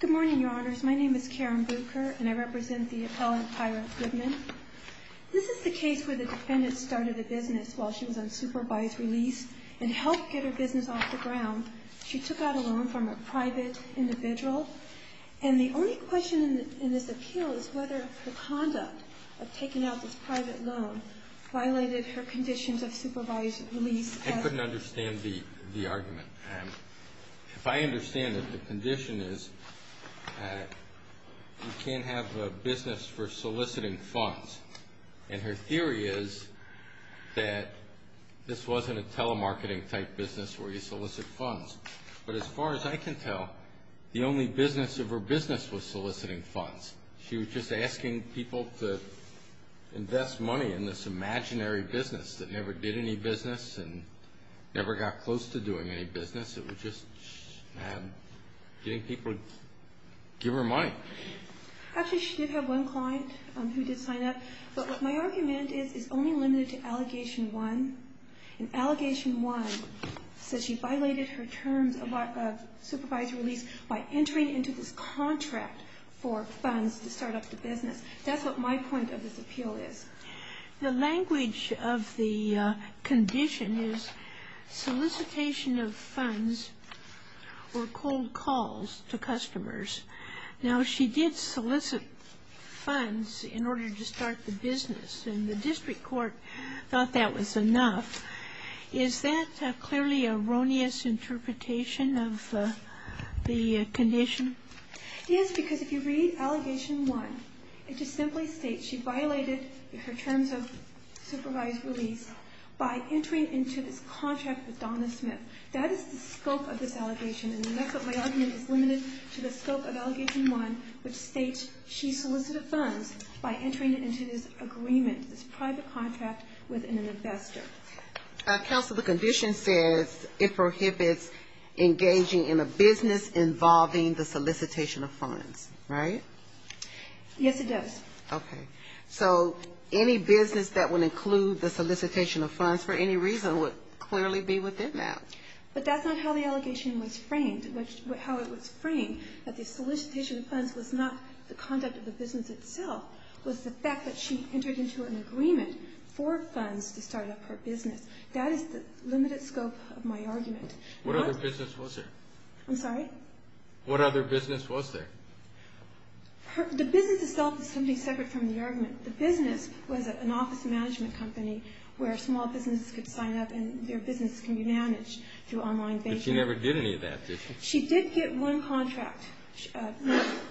Good morning, Your Honors. My name is Karen Bucher, and I represent the appellant Tyra Goodman. This is the case where the defendant started a business while she was on supervised release and helped get her business off the ground. She took out a loan from a private individual, and the only question in this appeal is whether her conduct of taking out this private loan violated her conditions of supervised release. I couldn't understand the argument. If I understand it, the condition is you can't have a business for soliciting funds. And her theory is that this wasn't a telemarketing type business where you solicit funds. But as far as I can tell, the only business of her business was soliciting funds. She was just asking people to invest money in this imaginary business that never did any business and never got close to doing any business. It was just getting people to give her money. Actually, she did have one client who did sign up. But what my argument is is only limited to Allegation 1. And Allegation 1 says she violated her terms of supervised release by entering into this contract for funds to start up the business. That's what my point of this appeal is. The language of the condition is solicitation of funds or cold calls to customers. Now, she did solicit funds in order to start the business, and the district court thought that was enough. Is that a clearly erroneous interpretation of the condition? Yes, because if you read Allegation 1, it just simply states she violated her terms of supervised release by entering into this contract with Donna Smith. That is the scope of this allegation, and that's what my argument is limited to the scope of Allegation 1, which states she solicited funds by entering into this agreement, this private contract with an investor. Counsel, the condition says it prohibits engaging in a business involving the solicitation of funds, right? Yes, it does. Okay. So any business that would include the solicitation of funds for any reason would clearly be within that. But that's not how the allegation was framed, how it was framed, that the solicitation of funds was not the conduct of the business itself. It was the fact that she entered into an agreement for funds to start up her business. That is the limited scope of my argument. What other business was there? I'm sorry? What other business was there? The business itself is something separate from the argument. The business was an office management company where small businesses could sign up and their business could be managed through online banking. But she never did any of that, did she? She did get one contract.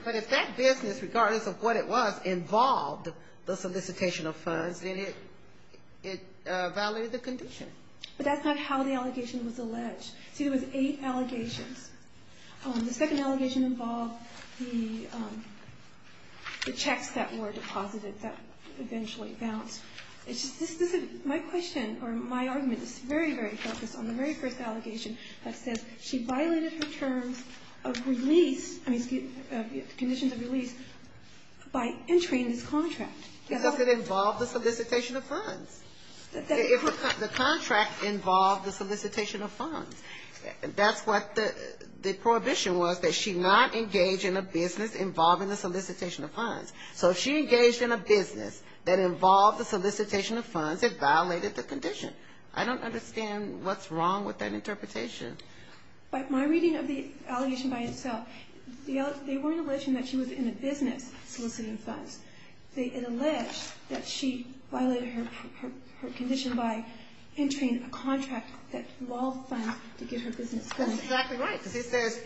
But if that business, regardless of what it was, involved the solicitation of funds, then it violated the condition. But that's not how the allegation was alleged. See, there was eight allegations. The second allegation involved the checks that were deposited that eventually bounced. My question or my argument is very, very focused on the very first allegation that says she violated her terms of release, conditions of release, by entering this contract. Because it involved the solicitation of funds. The contract involved the solicitation of funds. That's what the prohibition was, that she not engage in a business involving the solicitation of funds. So if she engaged in a business that involved the solicitation of funds, it violated the condition. I don't understand what's wrong with that interpretation. My reading of the allegation by itself, they weren't alleging that she was in a business soliciting funds. It alleged that she violated her condition by entering a contract that involved funds to get her business going. That's exactly right, because it says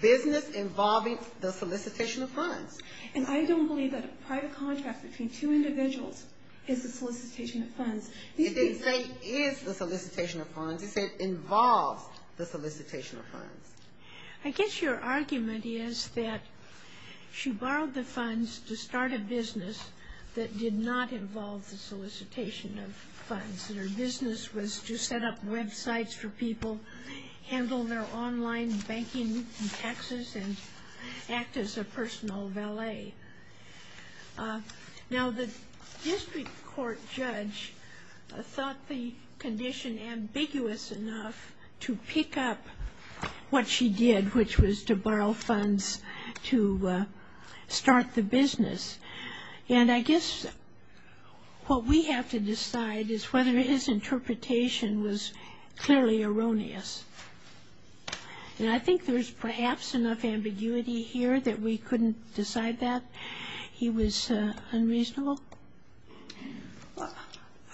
business involving the solicitation of funds. And I don't believe that a private contract between two individuals is the solicitation of funds. It didn't say is the solicitation of funds. It said involved the solicitation of funds. I guess your argument is that she borrowed the funds to start a business that did not involve the solicitation of funds. Her business was to set up websites for people, handle their online banking and taxes, and act as a personal valet. Now, the district court judge thought the condition ambiguous enough to pick up what she did, which was to borrow funds to start the business. And I guess what we have to decide is whether his interpretation was clearly erroneous. And I think there's perhaps enough ambiguity here that we couldn't decide that he was unreasonable.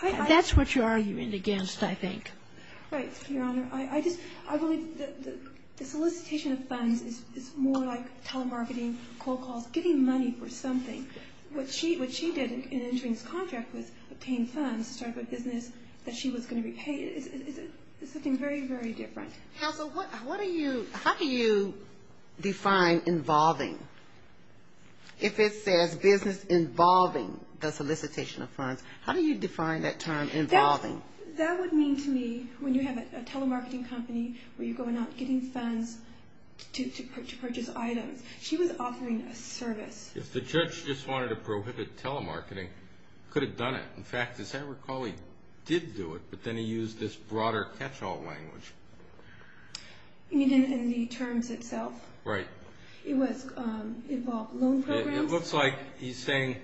That's what you're arguing against, I think. Right, Your Honor. I just – I believe the solicitation of funds is more like telemarketing, cold calls, getting money for something. What she did in entering this contract was obtain funds to start a business that she was going to repay. It's something very, very different. Counsel, what are you – how do you define involving? If it says business involving the solicitation of funds, how do you define that term involving? That would mean to me when you have a telemarketing company where you're going out getting funds to purchase items. She was offering a service. If the judge just wanted to prohibit telemarketing, could have done it. In fact, as I recall, he did do it, but then he used this broader catch-all language. You mean in the terms itself? Right. It was – involved loan programs? It looks like he's saying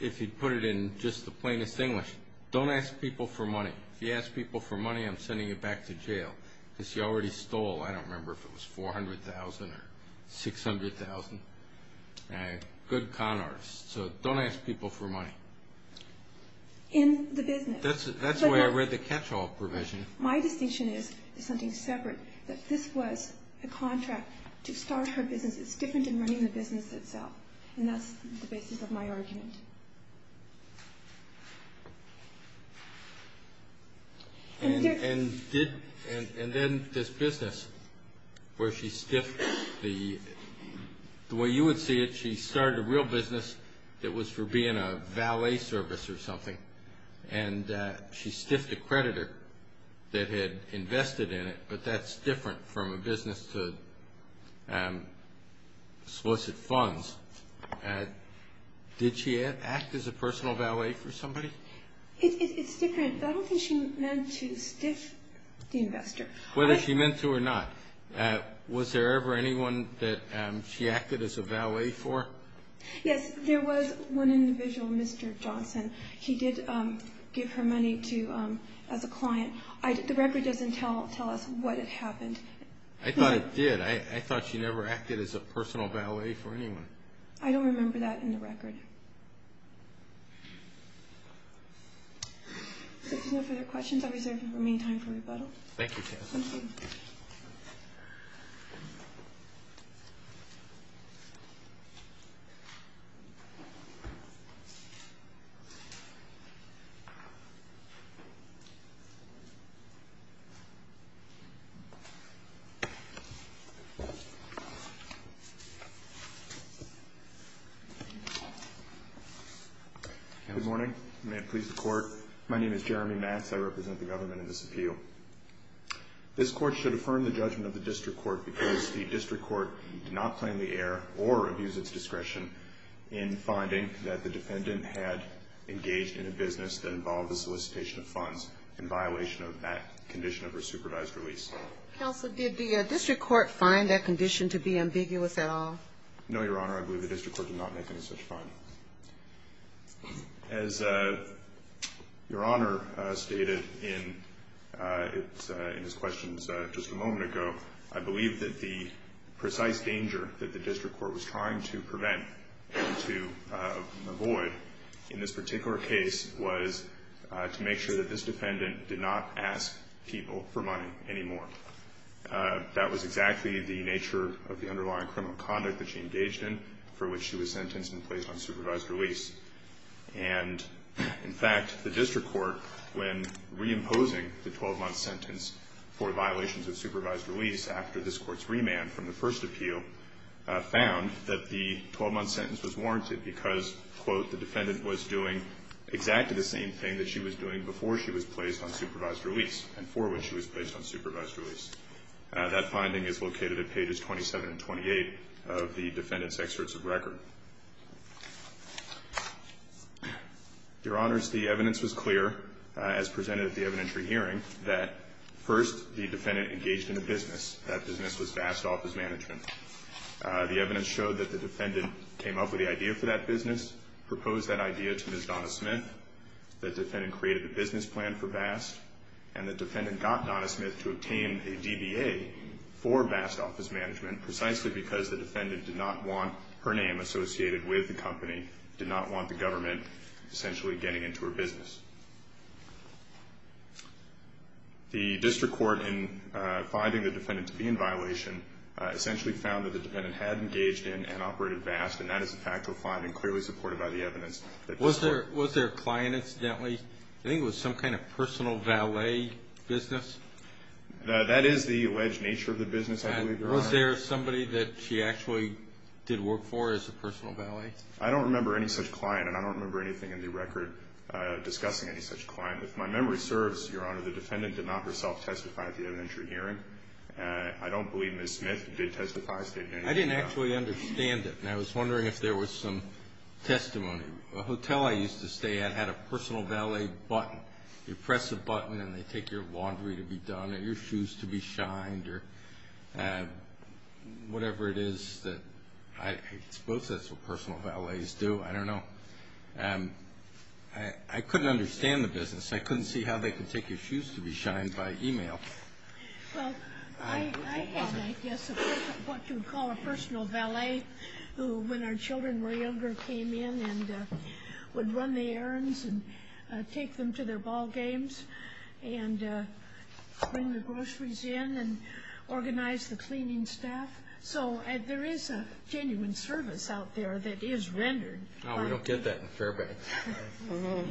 if he put it in just the plainest English, don't ask people for money. If you ask people for money, I'm sending you back to jail because you already stole. I don't remember if it was $400,000 or $600,000. Good con artists. So don't ask people for money. In the business. That's the way I read the catch-all provision. My distinction is something separate, that this was a contract to start her business. It's different than running the business itself, and that's the basis of my argument. And did – and then this business where she stiffed the – the way you would see it, she started a real business that was for being a valet service or something, and she stiffed a creditor that had invested in it, but that's different from a business to explicit funds. Did she act as a personal valet for somebody? It's different. I don't think she meant to stiff the investor. Whether she meant to or not, was there ever anyone that she acted as a valet for? Yes. There was one individual, Mr. Johnson. He did give her money to – as a client. The record doesn't tell us what had happened. I thought it did. I thought she never acted as a personal valet for anyone. I don't remember that in the record. If there's no further questions, I reserve the remaining time for rebuttal. Thank you. Thank you. Good morning. May it please the Court. My name is Jeremy Matz. I represent the government in this appeal. This Court should affirm the judgment of the District Court because the District Court did not plainly err or abuse its discretion in finding that the defendant had engaged in a business that involved the solicitation of funds in violation of that condition of her supervised release. Counsel, did the District Court find that condition to be ambiguous at all? No, Your Honor. I believe the District Court did not make any such findings. As Your Honor stated in his questions just a moment ago, I believe that the precise danger that the District Court was trying to prevent and to avoid in this particular case was to make sure that this defendant did not ask people for money anymore. That was exactly the nature of the underlying criminal conduct that she engaged in for which she was sentenced and placed on supervised release. And, in fact, the District Court, when reimposing the 12-month sentence for violations of supervised release after this Court's remand from the first appeal, found that the 12-month sentence was warranted because, quote, the defendant was doing exactly the same thing that she was doing before she was placed on supervised release and for which she was placed on supervised release. That finding is located at pages 27 and 28 of the defendant's excerpts of record. Your Honors, the evidence was clear, as presented at the evidentiary hearing, that, first, the defendant engaged in a business. That business was vast office management. The evidence showed that the defendant came up with the idea for that business, proposed that idea to Ms. Donna Smith, the defendant created the business plan for VAST, and the defendant got Donna Smith to obtain a DBA for VAST office management precisely because the defendant did not want her name associated with the company, did not want the government essentially getting into her business. The District Court, in finding the defendant to be in violation, essentially found that the defendant had engaged in and operated VAST, and that is a fact to find and clearly supported by the evidence. Was there a client, incidentally? I think it was some kind of personal valet business. That is the alleged nature of the business, I believe, Your Honor. Was there somebody that she actually did work for as a personal valet? I don't remember any such client, and I don't remember anything in the record discussing any such client. If my memory serves, Your Honor, the defendant did not herself testify at the evidentiary hearing. I don't believe Ms. Smith did testify. I didn't actually understand it, and I was wondering if there was some testimony. The hotel I used to stay at had a personal valet button. You press a button, and they take your laundry to be done or your shoes to be shined or whatever it is. I suppose that's what personal valets do. I don't know. I couldn't understand the business. I couldn't see how they could take your shoes to be shined by e-mail. Well, I had, I guess, what you would call a personal valet who, when our children were younger, came in and would run the errands and take them to their ball games and bring the groceries in and organize the cleaning staff. So there is a genuine service out there that is rendered. No, we don't get that in Fairbanks.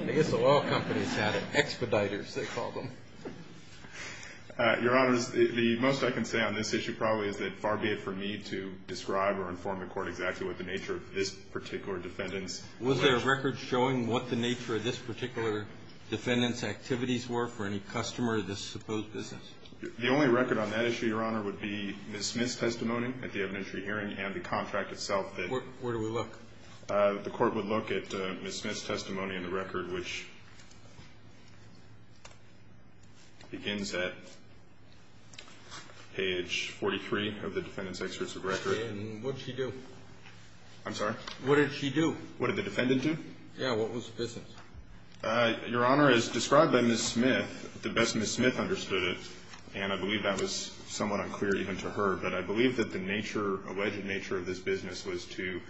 The S.O.L. companies had it, expediters they called them. Your Honor, the most I can say on this issue probably is that far be it for me to describe or inform the Court exactly what the nature of this particular defendant's. Was there a record showing what the nature of this particular defendant's activities were for any customer of this supposed business? The only record on that issue, Your Honor, would be Ms. Smith's testimony at the evidentiary hearing and the contract itself. Where do we look? The Court would look at Ms. Smith's testimony in the record, which begins at page 43 of the defendant's excerpts of record. And what did she do? I'm sorry? What did she do? What did the defendant do? Yeah, what was the business? Your Honor, as described by Ms. Smith, the best Ms. Smith understood it, and I believe that was somewhat unclear even to her, but I believe that the nature, alleged nature of this business was to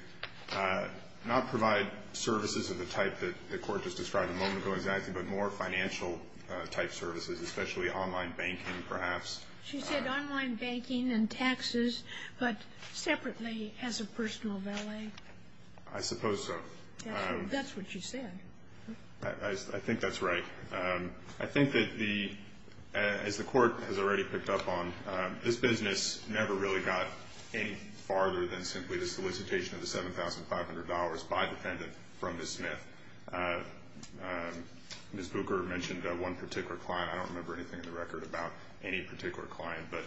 not provide services of the type that the Court just described a moment ago exactly, but more financial-type services, especially online banking perhaps. She said online banking and taxes, but separately as a personal valet? I suppose so. That's what she said. I think that's right. I think that, as the Court has already picked up on, this business never really got any farther than simply the solicitation of the $7,500 by the defendant from Ms. Smith. Ms. Booker mentioned one particular client. I don't remember anything in the record about any particular client, but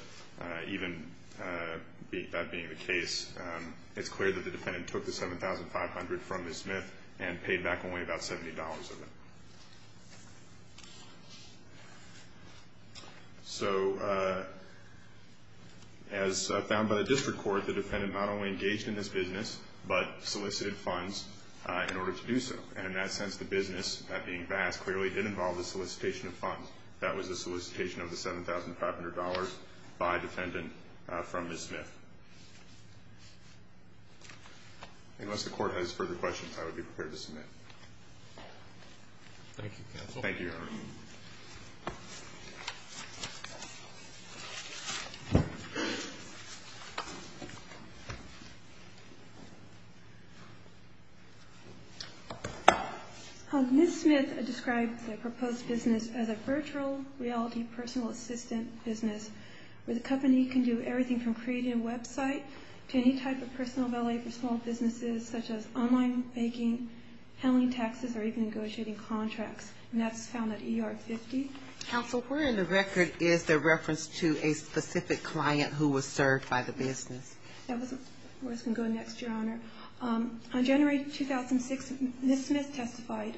even that being the case, it's clear that the defendant took the $7,500 from Ms. Smith and paid back only about $70 of it. So as found by the District Court, the defendant not only engaged in this business, but solicited funds in order to do so. And in that sense, the business, that being Bass, clearly did involve the solicitation of funds. That was the solicitation of the $7,500 by defendant from Ms. Smith. Unless the Court has further questions, I would be prepared to submit. Thank you, counsel. Thank you, Your Honor. Ms. Smith described the proposed business as a virtual reality personal assistant business where the company can do everything from creating a website to any type of personal valet for small businesses such as online banking, handling taxes, or even negotiating contracts. And that's found at ER 50. Counsel, where in the record is the reference to a specific client who was served by the business? That was where it's going to go next, Your Honor. On January 2006, Ms. Smith testified.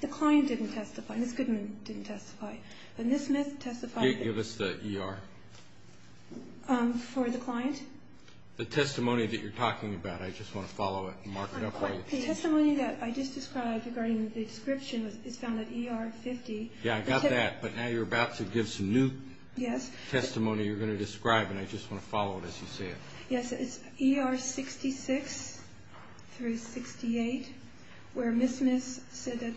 The client didn't testify. Ms. Goodman didn't testify. But Ms. Smith testified. Give us the ER. For the client? The testimony that you're talking about. I just want to follow it and mark it up for you. The testimony that I just described regarding the description is found at ER 50. Yeah, I got that. But now you're about to give some new testimony you're going to describe, and I just want to follow it as you say it. Yes, it's ER 66 through 68 where Ms. Smith said that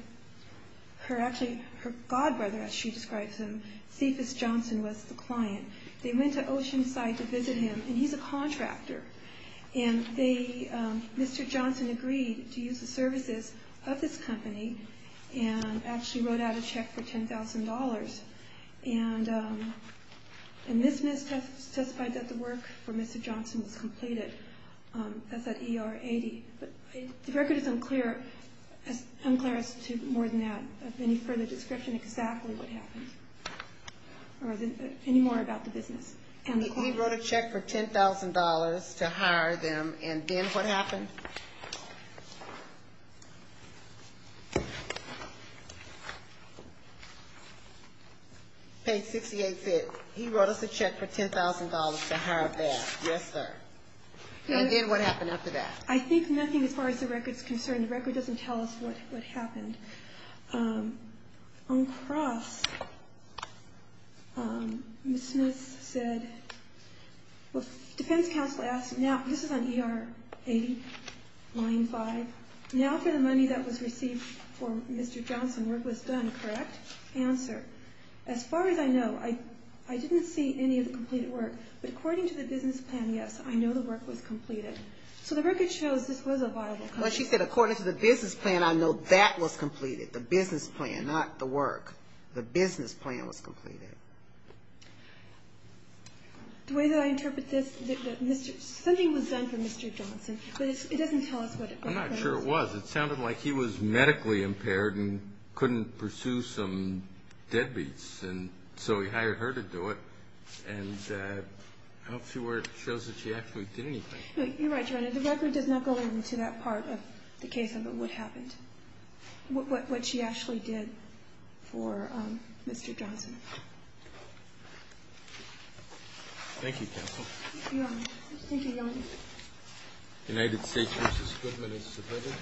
her godbrother, as she describes him, Cephas Johnson, was the client. They went to Oceanside to visit him, and he's a contractor. And Mr. Johnson agreed to use the services of this company and actually wrote out a check for $10,000. And Ms. Smith testified that the work for Mr. Johnson was completed. That's at ER 80. The record is unclear as to more than that of any further description exactly what happened or any more about the business and the client. He wrote a check for $10,000 to hire them, and then what happened? Page 68 said he wrote us a check for $10,000 to hire them. Yes, sir. And did what happen after that? I think nothing as far as the record is concerned. The record doesn't tell us what happened. On cross, Ms. Smith said, well, defense counsel asked, now this is on ER 80, line 5. Now for the money that was received for Mr. Johnson, work was done, correct? Answer, as far as I know, I didn't see any of the completed work. But according to the business plan, yes, I know the work was completed. So the record shows this was a viable company. Well, she said according to the business plan, I know that was completed, the business plan, not the work. The business plan was completed. The way that I interpret this, something was done for Mr. Johnson, but it doesn't tell us what it was. I'm not sure it was. It sounded like he was medically impaired and couldn't pursue some deadbeats, and so he hired her to do it. And I don't see where it shows that she actually did anything. You're right, Your Honor. The record does not go into that part of the case of what happened, what she actually did for Mr. Johnson. Thank you, counsel. Thank you, Your Honor. United States v. Goodman is submitted.